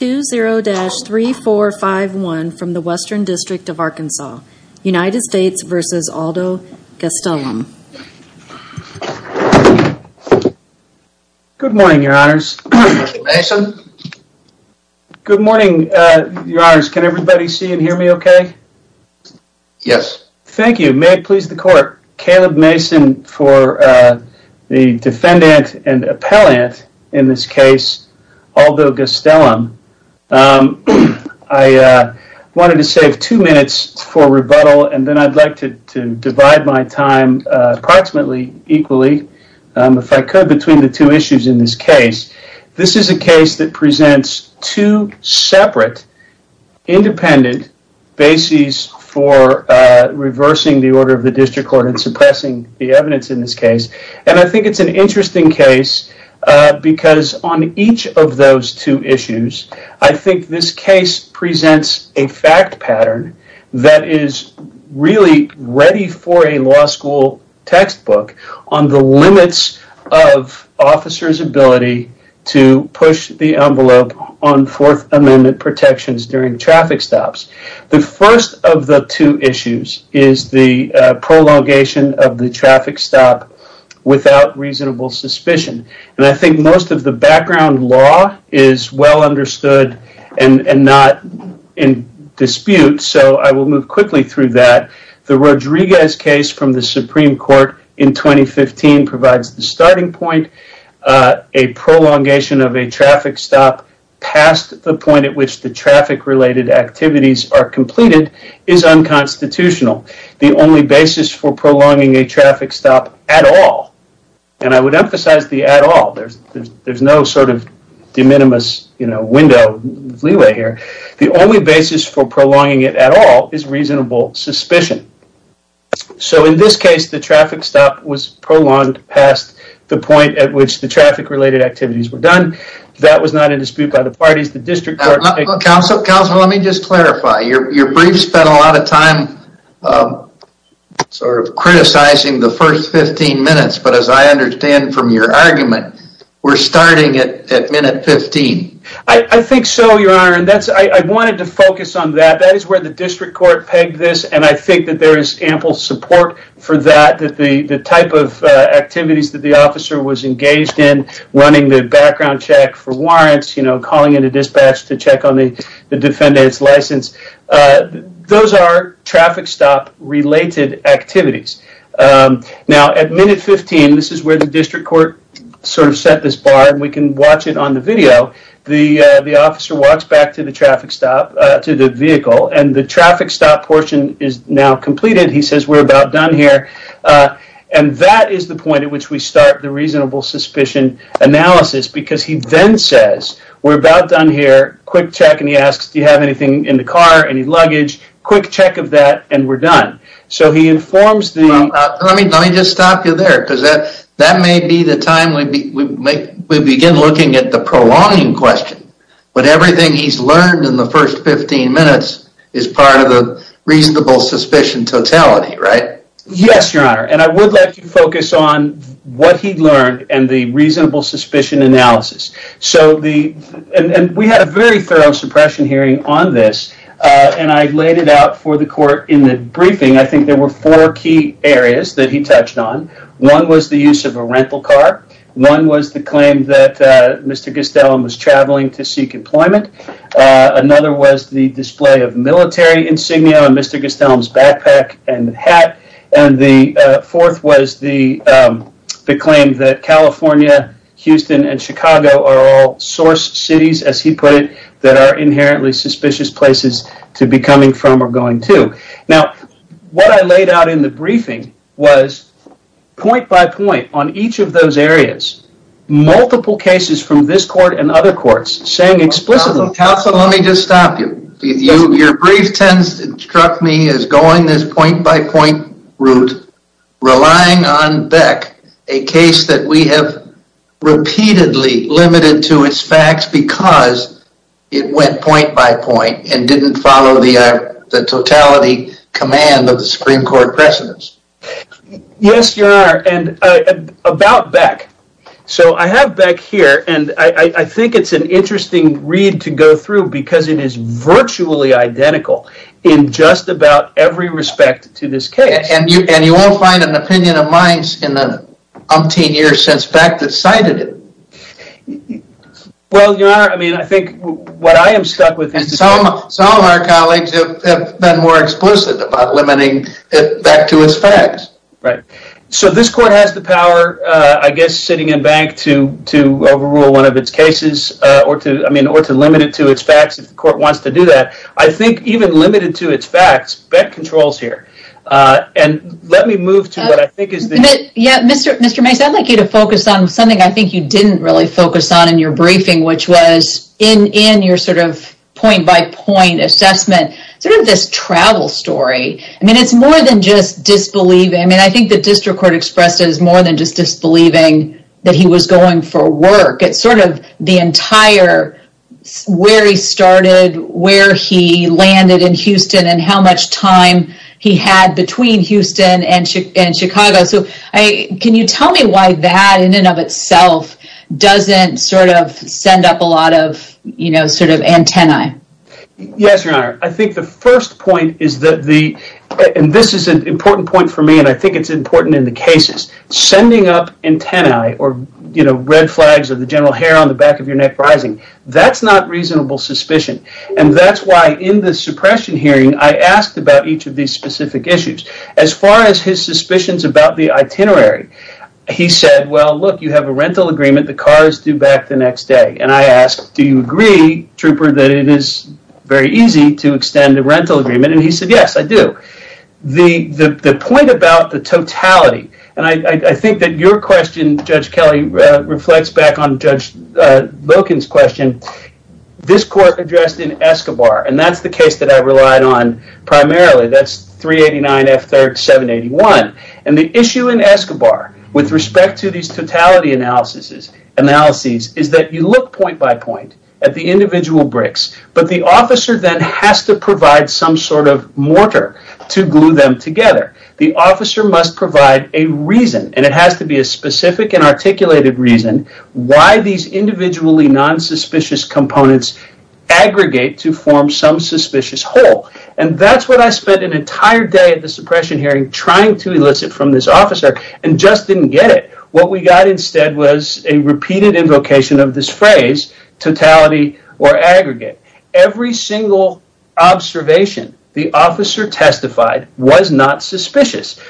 20-3451 from the Western District of Arkansas. United States v. Aldo Gastelum. Good morning, your honors. Good morning, your honors. Can everybody see and hear me okay? Yes. Thank you. May it please the court. Caleb Mason for the defendant and appellant in this case, Aldo Gastelum. I wanted to save two minutes for rebuttal and then I would like to divide my time approximately equally if I could between the two issues in this case. This is a case that presents two separate independent bases for reversing the order of the district court and suppressing the evidence in this case. I think it's an interesting case because on each of those two issues, I think this case presents a fact pattern that is really ready for a law school textbook on the limits of officers' ability to is the prolongation of the traffic stop without reasonable suspicion. I think most of the background law is well understood and not in dispute, so I will move quickly through that. The Rodriguez case from the Supreme Court in 2015 provides the starting point, a prolongation of a is unconstitutional. The only basis for prolonging a traffic stop at all, and I would emphasize the at all. There's no sort of de minimis window, leeway here. The only basis for prolonging it at all is reasonable suspicion. So in this case, the traffic stop was prolonged past the point at which the traffic-related activities were done. That was not in dispute by the parties. The of criticizing the first 15 minutes, but as I understand from your argument, we're starting at minute 15. I think so, Your Honor, and I wanted to focus on that. That is where the district court pegged this, and I think that there is ample support for that, that the type of activities that the officer was engaged in, running the background check for warrants, calling in a related activities. Now, at minute 15, this is where the district court sort of set this bar, and we can watch it on the video. The officer walks back to the traffic stop, to the vehicle, and the traffic stop portion is now completed. He says, we're about done here, and that is the point at which we start the reasonable suspicion analysis, because he then says, we're about done here, quick check, and he asks, do you have anything in the car, any luggage, quick check of that, and we're done. So he informs the... Let me just stop you there, because that may be the time we begin looking at the prolonging question, but everything he's learned in the first 15 minutes is part of the reasonable suspicion totality, right? Yes, Your Honor, and I would like to focus on what he learned, and the reasonable suspicion analysis, and we had a very thorough suppression hearing on this, and I laid it out for the court in the briefing. I think there were four key areas that he touched on. One was the use of a rental car. One was the claim that Mr. Gustelum was traveling to seek employment. Another was the display of military insignia on Mr. Gustelum's backpack and hat, and the fourth was the claim that California, Houston, and Chicago are all source cities, as he put it, that are inherently suspicious places to be coming from or going to. Now, what I laid out in the briefing was, point by point, on each of those areas, multiple cases from this court and other courts saying explicitly... Counselor, let me just stop you. Your brief struck me as going this point by point route, relying on Beck, a case that we have repeatedly limited to its facts because it went point by point and didn't follow the totality command of the Supreme Court precedents. Yes, Your Honor, and about Beck. So, I have Beck here, and I think it's an interesting read to go through because it is virtually identical in just about every respect to this case. And you won't find an opinion of mine in the umpteen years since Beck decided it. Well, Your Honor, I mean, I think what I am stuck with... Some of our colleagues have been more explicit about limiting it back to its facts. Right. So, this court has the power, I guess, sitting in Beck to overrule one of its cases or to limit it to its facts if the court wants to do that. I think even limited to its facts, Beck controls here. And let me move to what I think is... Yeah, Mr. Mace, I'd like you to focus on something I think you didn't really focus on in your briefing, which was, in your sort of point by point assessment, sort of this travel story. I mean, it's more than just disbelieving. I mean, I think the district court expresses more than just believing that he was going for work. It's sort of the entire where he started, where he landed in Houston, and how much time he had between Houston and Chicago. So, can you tell me why that in and of itself doesn't sort of send up a lot of, you know, sort of antennae? Yes, Your Honor. I think the first point is that the... And this is an important point for me, and I think it's important in the cases. Sending up antennae or, you know, red flags or the general hair on the back of your neck rising, that's not reasonable suspicion. And that's why in the suppression hearing, I asked about each of these specific issues. As far as his suspicions about the itinerary, he said, well, look, you have a rental agreement. The car is due back the next day. And I asked, do you agree, Trooper, that it is very easy to extend a rental agreement? And he said, yes, I do. The point about the totality, and I think that your question, Judge Kelly, reflects back on Judge Loken's question. This court addressed in Escobar, and that's the case that I relied on primarily. That's 389 F-3781. And the issue in Escobar with respect to these totality analyses is that you look point by point at the individual bricks, but the officer then has to mortar to glue them together. The officer must provide a reason, and it has to be a specific and articulated reason, why these individually nonsuspicious components aggregate to form some suspicious whole. And that's what I spent an entire day at the suppression hearing trying to elicit from this officer and just didn't get it. What we got instead was a repeated invocation of totality or aggregate. Every single observation the officer testified was not suspicious.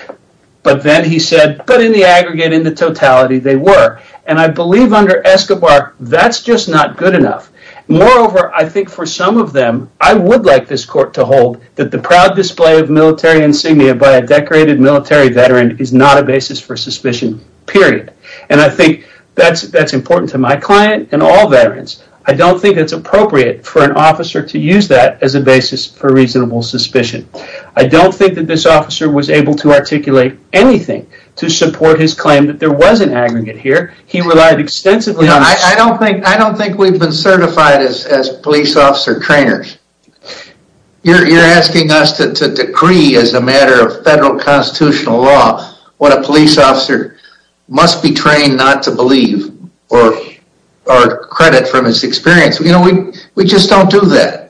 But then he said, but in the aggregate, in the totality, they were. And I believe under Escobar, that's just not good enough. Moreover, I think for some of them, I would like this court to hold that the proud display of military insignia by a decorated military veteran is not a basis for all veterans. I don't think it's appropriate for an officer to use that as a basis for reasonable suspicion. I don't think that this officer was able to articulate anything to support his claim that there was an aggregate here. He relied extensively on... I don't think we've been certified as police officer trainers. You're asking us to decree as a matter of federal law what a police officer must be trained not to believe or credit from his experience. We just don't do that.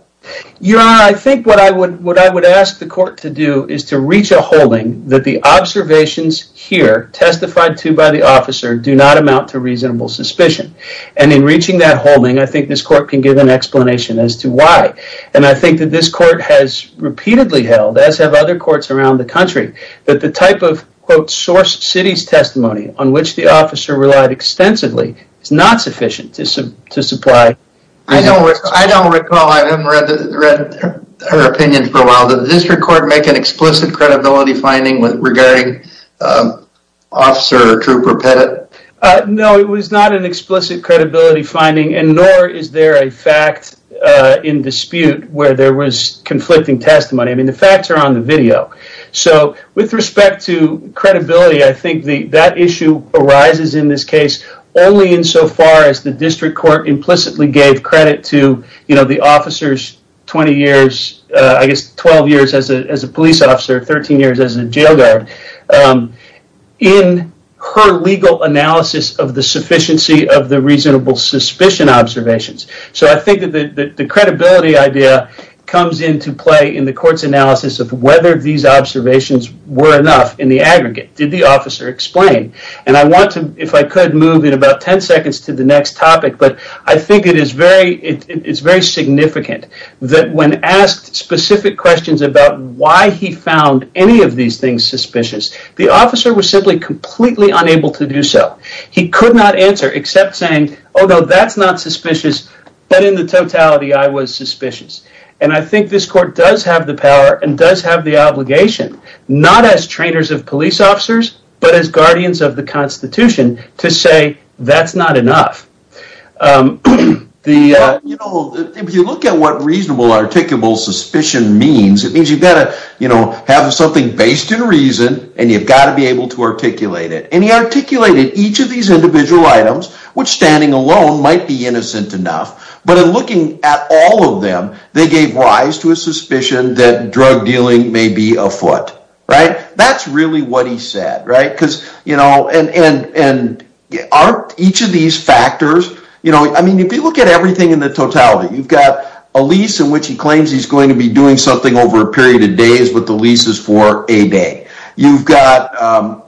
Your Honor, I think what I would ask the court to do is to reach a holding that the observations here testified to by the officer do not amount to reasonable suspicion. And in reaching that holding, I think this court can give an explanation as to why. And I think that this court has repeatedly held, as have other courts around the country, that the type of source city's testimony on which the officer relied extensively is not sufficient to supply... I don't recall. I haven't read her opinion for a while. Did this record make an explicit credibility finding regarding officer Trooper Pettit? No, it was not an explicit credibility finding, and nor is there a fact in dispute where there was conflicting testimony. I mean, the facts are on the video. So, with respect to credibility, I think that issue arises in this case only in so far as the district court implicitly gave credit to the officer's 20 years... I guess 12 years as a police officer, 13 years as a jail guard. ...in her legal analysis of the sufficiency of the reasonable suspicion observations. So, I think that the credibility idea comes into play in the court's analysis of whether these observations were enough in the aggregate. Did the officer explain? And I want to, if I could, move in about 10 seconds to the next topic, but I think it is very significant that when asked specific questions about why he found any of these things suspicious, the officer was simply completely unable to do so. He could not answer except saying, although that's not suspicious, but in the totality, I was suspicious. And I think this court does have the power and does have the obligation, not as trainers of police officers, but as guardians of the Constitution, to say that's not enough. If you look at what reasonable articulable suspicion means, it means you've got to have something based in reason, and you've got to be able to articulate it. And he articulated each of these individual items, which standing alone might be innocent enough, but in looking at all of them, they gave rise to a suspicion that drug dealing may be afoot. That's really what he said. And aren't each of these factors, I mean, if you look at everything in the totality, you've got a lease in which he claims he's going to be doing something over a period of days, but the lease is for a day. You've got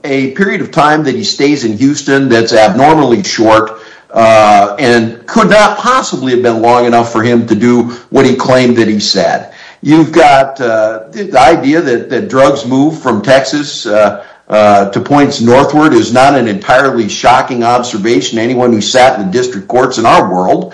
a period of time that he stays in Houston that's abnormally short and could not possibly have been long enough for him to do what he moved from Texas to points northward is not an entirely shocking observation to anyone who sat in district courts in our world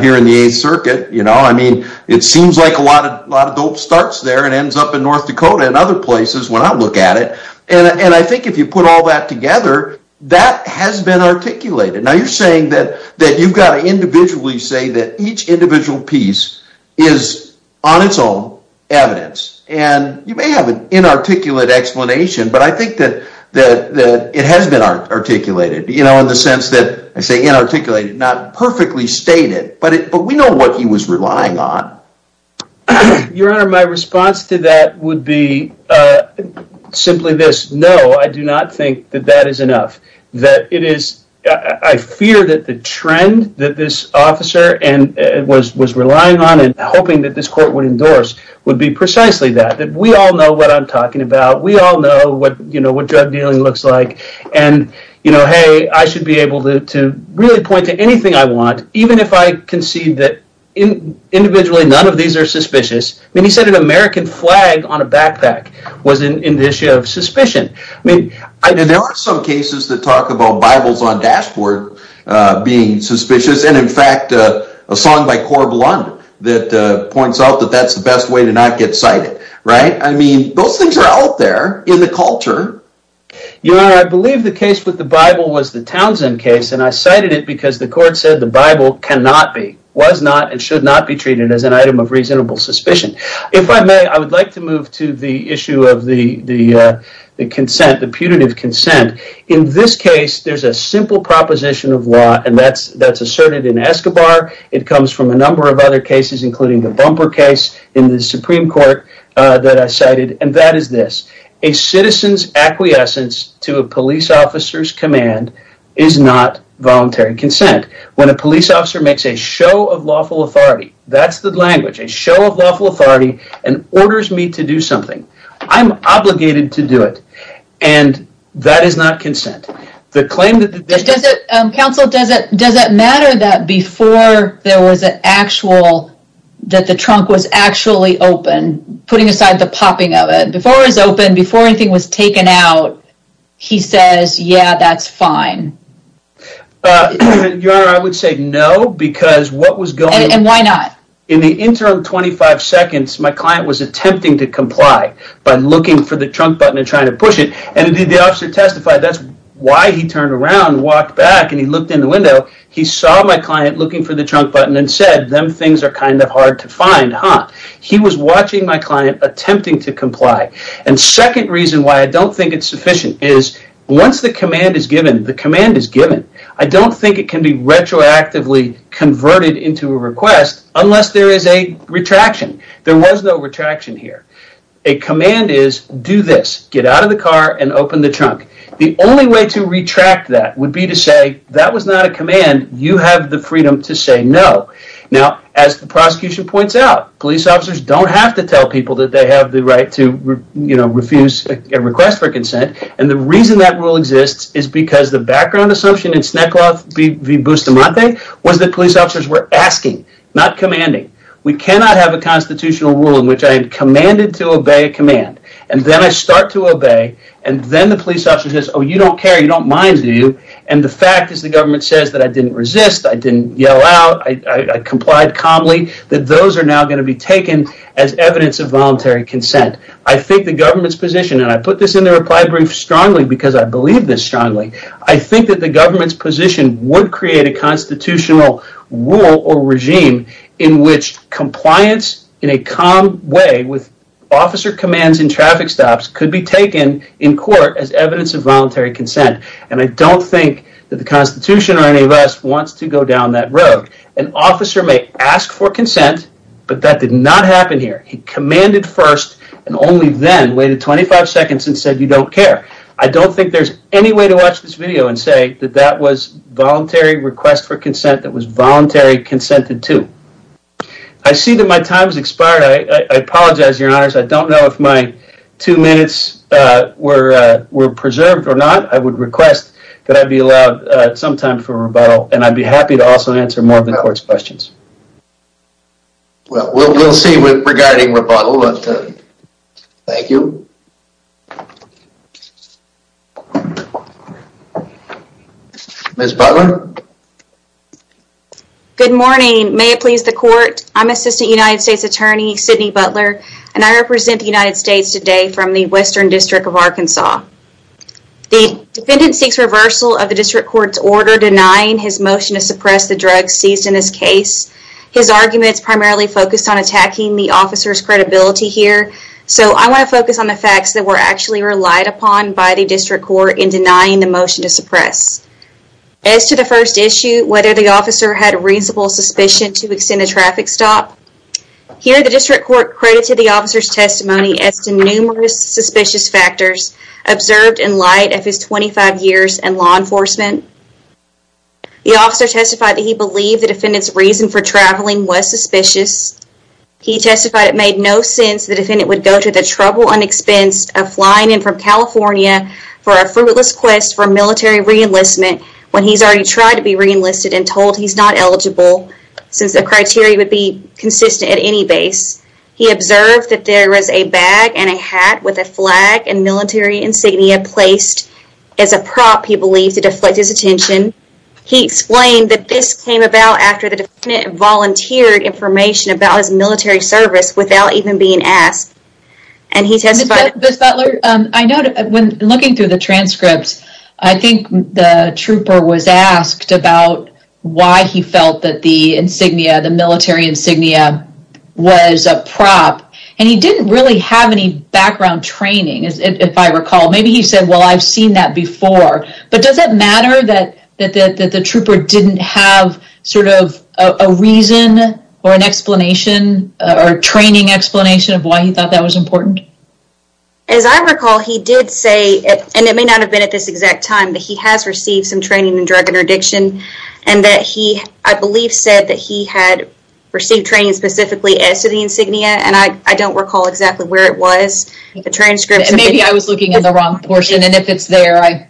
here in the 8th Circuit. I mean, it seems like a lot of dope starts there and ends up in North Dakota and other places when I look at it. And I think if you put all that together, that has been articulated. Now you're saying that you've got to individually say that each individual piece is on its own evidence. And you may have an inarticulate explanation, but I think that it has been articulated, you know, in the sense that I say inarticulated, not perfectly stated, but we know what he was relying on. Your Honor, my response to that would be simply this. No, I do not think that that is enough. That it is, I fear that the trend that this officer was relying on and hoping that this court would endorse would be precisely that. That we all know what I'm talking about. We all know what, you know, what drug dealing looks like. And, you know, hey, I should be able to really point to anything I want, even if I concede that individually none of these are suspicious. I mean, he said an American flag on a backpack was an indicia of suspicion. I mean, there are some cases that talk about Bibles on dashboard being suspicious. And, in fact, a song by Cor Blund that points out that that's the best way to not get cited. Right? I mean, those things are out there in the culture. Your Honor, I believe the case with the Bible was the Townsend case, and I cited it because the court said the Bible cannot be, was not, and should not be treated as an item of reasonable suspicion. If I may, I would like to and that's asserted in Escobar. It comes from a number of other cases, including the Bumper case in the Supreme Court that I cited, and that is this. A citizen's acquiescence to a police officer's command is not voluntary consent. When a police officer makes a show of lawful authority, that's the language. A show of lawful authority and orders me to do something. I'm obligated to consent. The claim that... Counsel, does it matter that before there was an actual, that the trunk was actually open, putting aside the popping of it, before it was open, before anything was taken out, he says, yeah, that's fine. Your Honor, I would say no, because what was going... And why not? In the interim 25 seconds, my client was attempting to comply by looking for the trunk button and trying to push it, and the officer testified that's why he turned around, walked back, and he looked in the window. He saw my client looking for the trunk button and said, them things are kind of hard to find, huh? He was watching my client attempting to comply. And second reason why I don't think it's sufficient is once the command is given, the command is given. I don't think it can be retroactively converted into a request unless there is a retraction. There was no retraction here. A command is, do this, get out of the car and open the trunk. The only way to retract that would be to say, that was not a command. You have the freedom to say no. Now, as the prosecution points out, police officers don't have to tell people that they have the right to refuse a request for consent, and the reason that rule exists is because the background assumption in Sneklov v. Bustamante was that police officers were asking, not commanding. We cannot have a constitutional rule in which I am commanded to obey a command, and then I start to obey, and then the police officer says, oh, you don't care, you don't mind, do you? And the fact is the government says that I didn't resist, I didn't yell out, I complied calmly, that those are now going to be taken as evidence of voluntary consent. I think the government's position, and I put this in the reply brief strongly because I believe this strongly, I think that the government's position would create a constitutional rule or regime in which compliance in a calm way with officer commands in traffic stops could be taken in court as evidence of voluntary consent, and I don't think that the Constitution or any of us wants to go down that road. An officer may ask for consent, but that did not happen here. He commanded first, and only then waited 25 seconds and said, you don't care. I don't think there's any way to watch this video and say that that was voluntary request for consent that was voluntary consented to. I see that my time has expired. I apologize, your honors. I don't know if my two minutes were preserved or not. I would request that I be allowed some time for rebuttal, and I'd be happy to also answer more of the court's questions. Well, we'll see regarding rebuttal. Thank you. Ms. Butler. Good morning. May it please the court, I'm Assistant United States Attorney Sydney Butler, and I represent the United States today from the Western District of Arkansas. The defendant seeks reversal of the district court's order denying his motion to suppress the drugs seized in this case. His arguments primarily focused on attacking the officer's credibility here, so I want to focus on the facts that were actually relied upon by the district court in denying the motion to suppress. As to the first issue, whether the officer had reasonable suspicion to extend a traffic stop, here the district court credited the officer's testimony as to numerous suspicious factors observed in light of his 25 years in law enforcement. The officer testified that he believed the defendant's reason for traveling was suspicious. He testified it made no sense the defendant would go to the trouble and expense of flying in from California for a fruitless quest for military re-enlistment when he's already tried to be re-enlisted and told he's not eligible since the criteria would be consistent at any base. He observed that there was a bag and a hat with a flag and military insignia placed as a prop he believed to deflect his attention. He explained that this came about after the defendant volunteered information about his military service without even being asked, and he testified. Ms. Butler, I know when looking through the transcripts, I think the trooper was asked about why he felt that the insignia, the military insignia, was a prop, and he didn't really have any background training, as if I recall. Maybe he said, well, I've seen that before, but does it matter that the trooper didn't have sort of a reason or an explanation or training explanation of why he thought that was important? As I recall, he did say, and it may not have been at this exact time, that he has received some training in drug interdiction, and that he, I believe, said that he had received training specifically as to the insignia, and I don't recall exactly where it was. The transcript. Maybe I was looking in the wrong portion, and if it's there,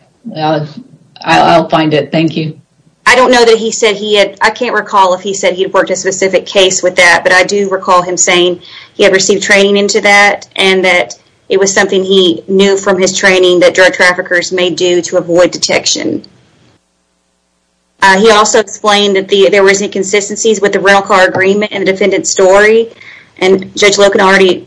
I'll find it. Thank you. I don't know that he said he had, I can't recall if he said he'd worked a specific case with that, but I do recall him saying he had received training into that, and that it was something he knew from his training that drug traffickers may do to avoid detection. He also explained that there were inconsistencies with the rental car agreement and the defendant's story, and Judge Loken already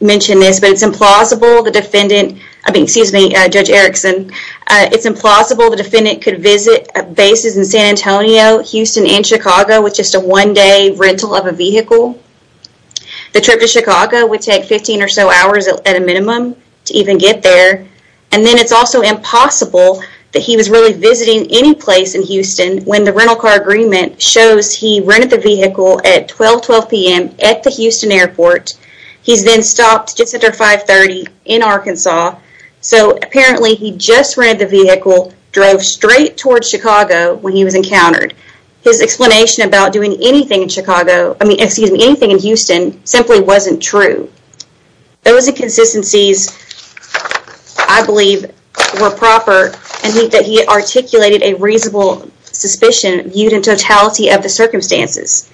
mentioned this, but it's implausible the defendant, I mean, excuse me, Judge Erickson, it's implausible the defendant could visit bases in San Antonio, Houston, and Chicago with just a one-day rental of a vehicle. The trip to Chicago would take 15 or so hours at a minimum to even get there, and then it's also impossible that he was really visiting any place in Houston when the rental car agreement shows he rented the vehicle at 12, 12 p.m. at the Houston airport. He's then stopped just after 5 30 in Arkansas, so apparently he just rented the vehicle, drove straight towards Chicago when he was encountered. His explanation about doing anything in Chicago, I mean, excuse me, anything in Houston simply wasn't true. Those inconsistencies, I believe, were proper and meant that he articulated a reasonable suspicion viewed in totality of the circumstances.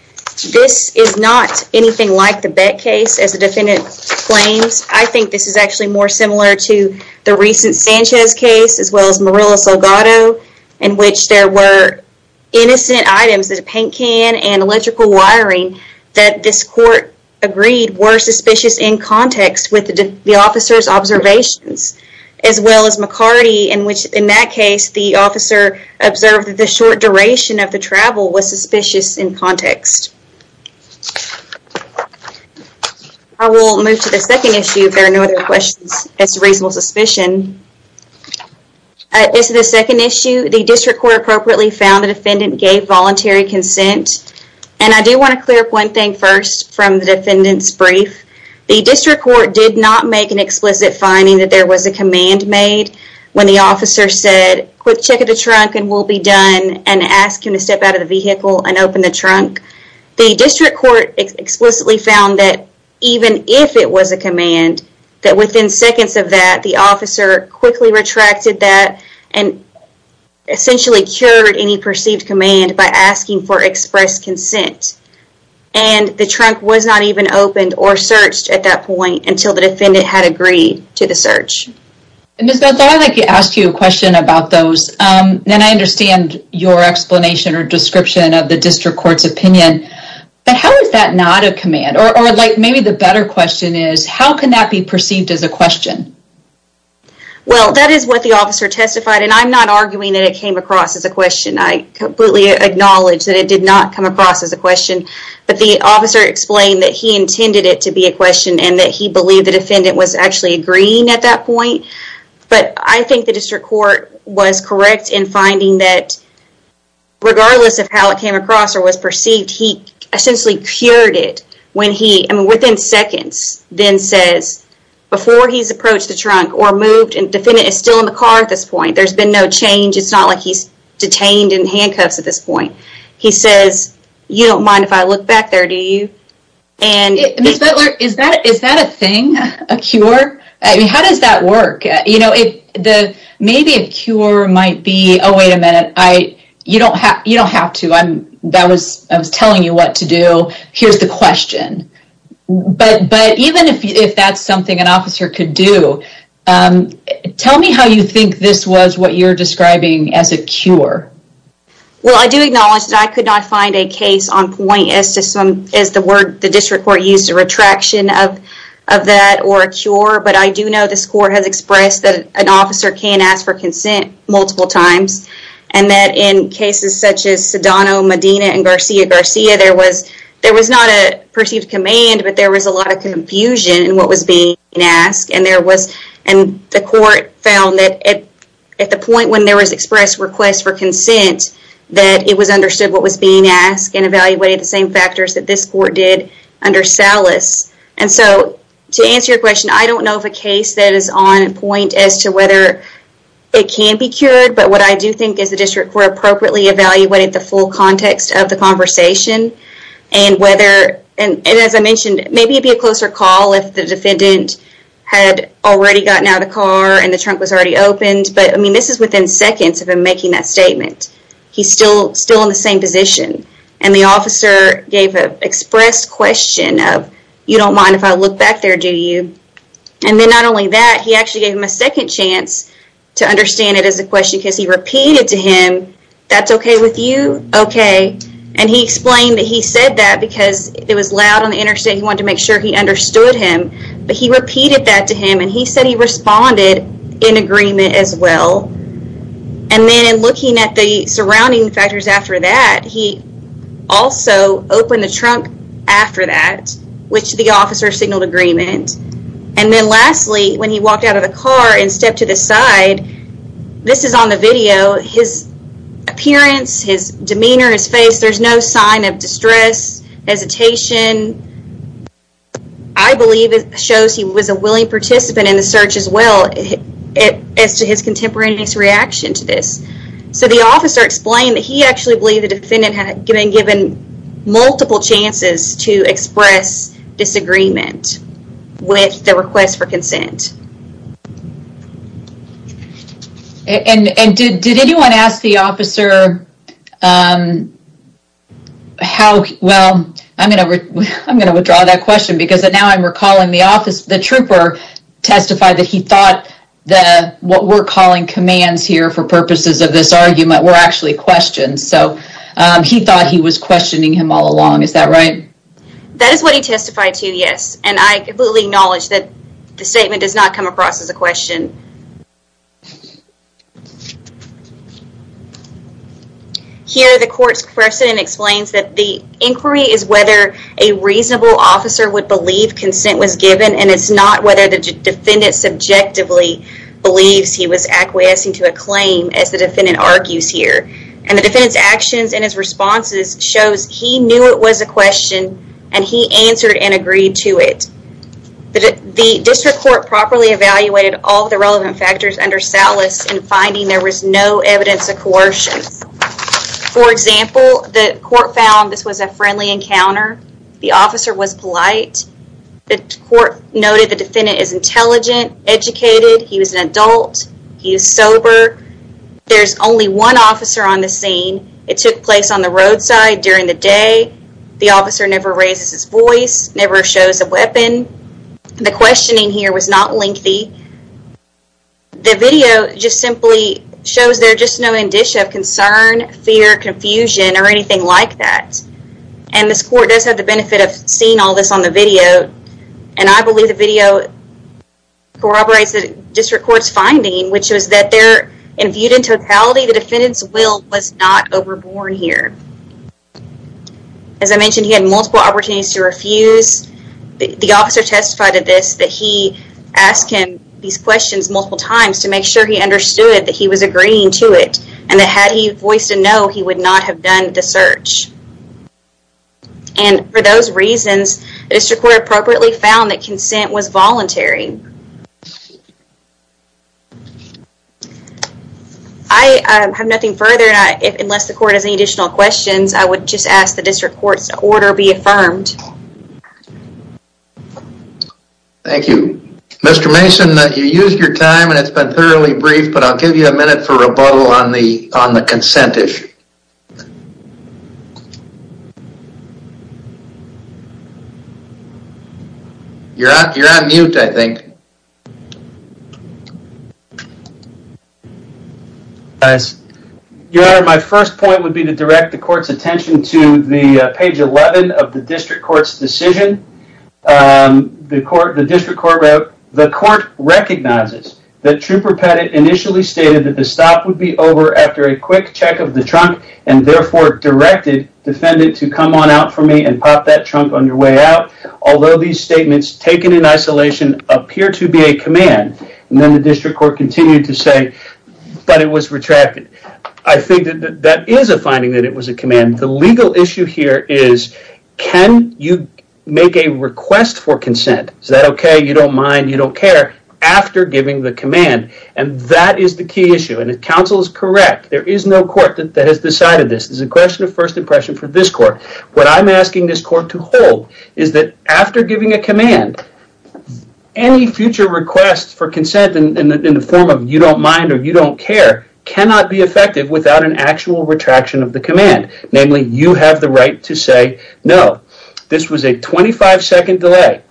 This is not anything like the Bett case, as the defendant claims. I think this is actually more similar to the recent Sanchez case, as well as Marilla Salgado, in which there were innocent items, a paint can and electrical wiring that this court agreed were suspicious in context with the officer's observations, as well as McCarty, in which in that case the officer observed that the short duration of the travel was suspicious in context. I will move to the second issue. If there are no other questions, it's a reasonable suspicion. This is the second issue. The district court appropriately found the defendant gave voluntary consent, and I do want to clear up one thing first from the defendant's brief. The district court did not make an explicit finding that there was a command made when the officer said, quick check of the trunk and we'll be done, and ask him to step out of the vehicle and open the trunk. The district court explicitly found that even if it was a command, that within seconds of that, the officer quickly retracted that and essentially cured any perceived command by asking for express consent. The trunk was not even opened or searched at that point until the defendant had agreed to the search. I'd like to ask you a question about those. I understand your explanation or description of the district court's opinion, but how is that not a command? Or maybe the better question is, how can that be perceived as a question? Well, that is what the officer testified, and I'm not arguing that it came across as a question. I completely acknowledge that it did not come across as a question, but the officer explained that he intended it to be a question and that he believed the defendant was actually agreeing at that point, but I think the district court was correct in finding that regardless of how it came across or was perceived, he essentially cured it when he, I mean within seconds, then says, before he's approached the trunk or moved, and defendant is still in the car at this point, there's been no change, it's not like he's detained in handcuffs at this point. He says, you don't mind if I look back there, do you? Ms. Butler, is that a thing, a cure? I mean, how does that work? You know, maybe a cure might be, oh wait a minute, you don't have to, I was telling you what to do, here's the question. But even if that's something an officer could do, tell me how you think this was what you're describing as a cure. Well, I do acknowledge that I could not find a case on point as to some, as the word the district court used, a retraction of that or a cure, but I do know this court has expressed that an officer can ask for consent multiple times, and that in cases such as Sedano, Medina, and Garcia-Garcia, there was not a perceived command, but there was a lot of confusion in what was being asked, and there was, and the court found that at the point when there was expressed request for consent, that it was understood what was being asked and evaluated the same factors that this court did under Salas. And so to answer your question, I don't know of a case that is on point as to whether it can be cured, but what I do think is the district court appropriately evaluated the full context of the conversation, and whether, and as I mentioned, maybe it'd be a closer call if the defendant had already gotten out of the car and the trunk was already opened, but I mean, this is within seconds of him making that statement. He's still in the same position, and the officer gave an expressed question of, you don't mind if I look back there, do you? And then not only that, he actually gave him a second chance to understand it as a question, because he repeated to him, that's okay with you? Okay. And he explained that he said that because it was loud on the interstate, he wanted to make sure he understood him, but he repeated that to him, and he said he responded in agreement as well. And then in looking at the surrounding factors after that, he also opened the trunk after that, which the officer signaled agreement. And then lastly, when he walked out of the car and stepped to the side, this is on the video, his appearance, his demeanor, his face, there's no sign of distress, hesitation. I believe it shows he was a willing participant in the search as well, as to his contemporaneous reaction to this. So the officer explained that he actually believed the defendant had been given multiple chances to express disagreement with the request for consent. And did anyone ask the officer how, well, I'm going to withdraw that question, because now I'm recalling the officer, the trooper testified that he thought what we're calling commands here for purposes of this argument were actually questions. So he thought he was questioning him all along, is that right? That is what he testified to, yes. And I completely acknowledge that the statement does not come across as a question. Here, the court's precedent explains that the inquiry is whether a reasonable officer would believe consent was given, and it's not whether the defendant subjectively believes he was acquiescing to a claim, as the defendant argues here. And the defendant's actions and his responses shows he knew it was a question, and he answered and agreed to it. The district court properly evaluated all the relevant factors under Salas in finding there was no evidence of coercion. For example, the court found this was a friendly encounter, the officer was polite, the court noted the defendant is intelligent, educated, he was an adult, he was sober, there's only one officer on the scene, it took place on the roadside during the day, the officer never raises his voice, never shows a weapon, the questioning here was not lengthy, the video just simply shows there's just no indicia of concern, fear, confusion, or anything like that. And this court does have the benefit of seeing all this on the video, and I believe the was that there, and viewed in totality, the defendant's will was not overborn here. As I mentioned, he had multiple opportunities to refuse, the officer testified to this, that he asked him these questions multiple times to make sure he understood that he was agreeing to it, and that had he voiced a no, he would not have done the search. And for those reasons, the district court appropriately found that consent was voluntary. I have nothing further, unless the court has any additional questions, I would just ask the district court's order be affirmed. Thank you. Mr. Mason, you used your time, and it's been thoroughly brief, but I'll give you a minute for rebuttal on the on the consent issue. You're on mute, I think. Yes, your honor, my first point would be to direct the court's attention to the page 11 of the district court's decision. The court, the district court wrote, the court recognizes that Trooper Pettit initially stated that the stop would be over after a quick check of the trunk, and therefore directed defendant to come on out for me and pop that trunk on your way out. Although these statements taken in isolation appear to be a command, and then the district court continued to say, but it was retracted. I think that that is a finding that it was a command. The legal issue here is, can you make a request for consent? Is that okay? You don't mind? You don't care? After giving the command, and that is the key issue, and if counsel is correct, there is no court that has decided this. It's a question of first impression for this court. What I'm asking this court to hold is that after giving a command, any future request for consent in the form of, you don't mind or you don't care, cannot be effective without an actual retraction of the command. Namely, you have the right to say, no, this was a 25 second delay.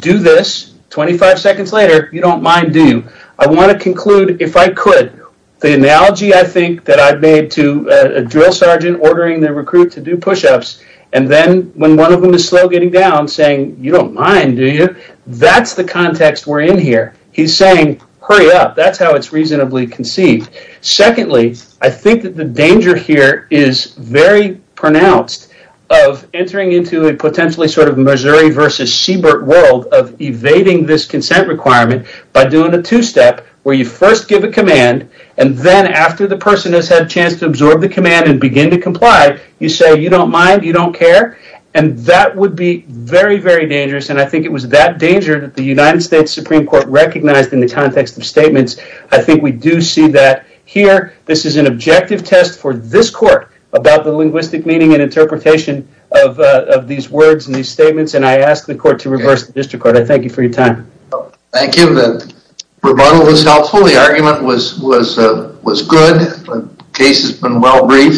Do this, 25 seconds later, you don't mind, do you? I want to conclude, if I could, the analogy I think that I've made to a drill sergeant ordering the recruit to do push-ups, and then when one of them is slow getting down, saying, you don't mind, do you? That's the context we're in here. He's saying, hurry up. That's how it's reasonably conceived. Secondly, I think that the danger here is very pronounced of entering into a potentially sort of Missouri versus Siebert world of evading this consent requirement by doing a two-step where you first give a command, and then after the person has had a chance to absorb the command and begin to comply, you say, you don't mind, you don't care, and that would be very, very dangerous, and I think it was that danger that the United States Supreme Court recognized in the context of statements. I think we do see that here. This is an objective test for this court about the linguistic meaning and interpretation of these words and these statements, and I ask the court to reverse the district court. I thank you for your time. Thank you. The rebuttal was helpful. The argument was good. The case has been well-briefed.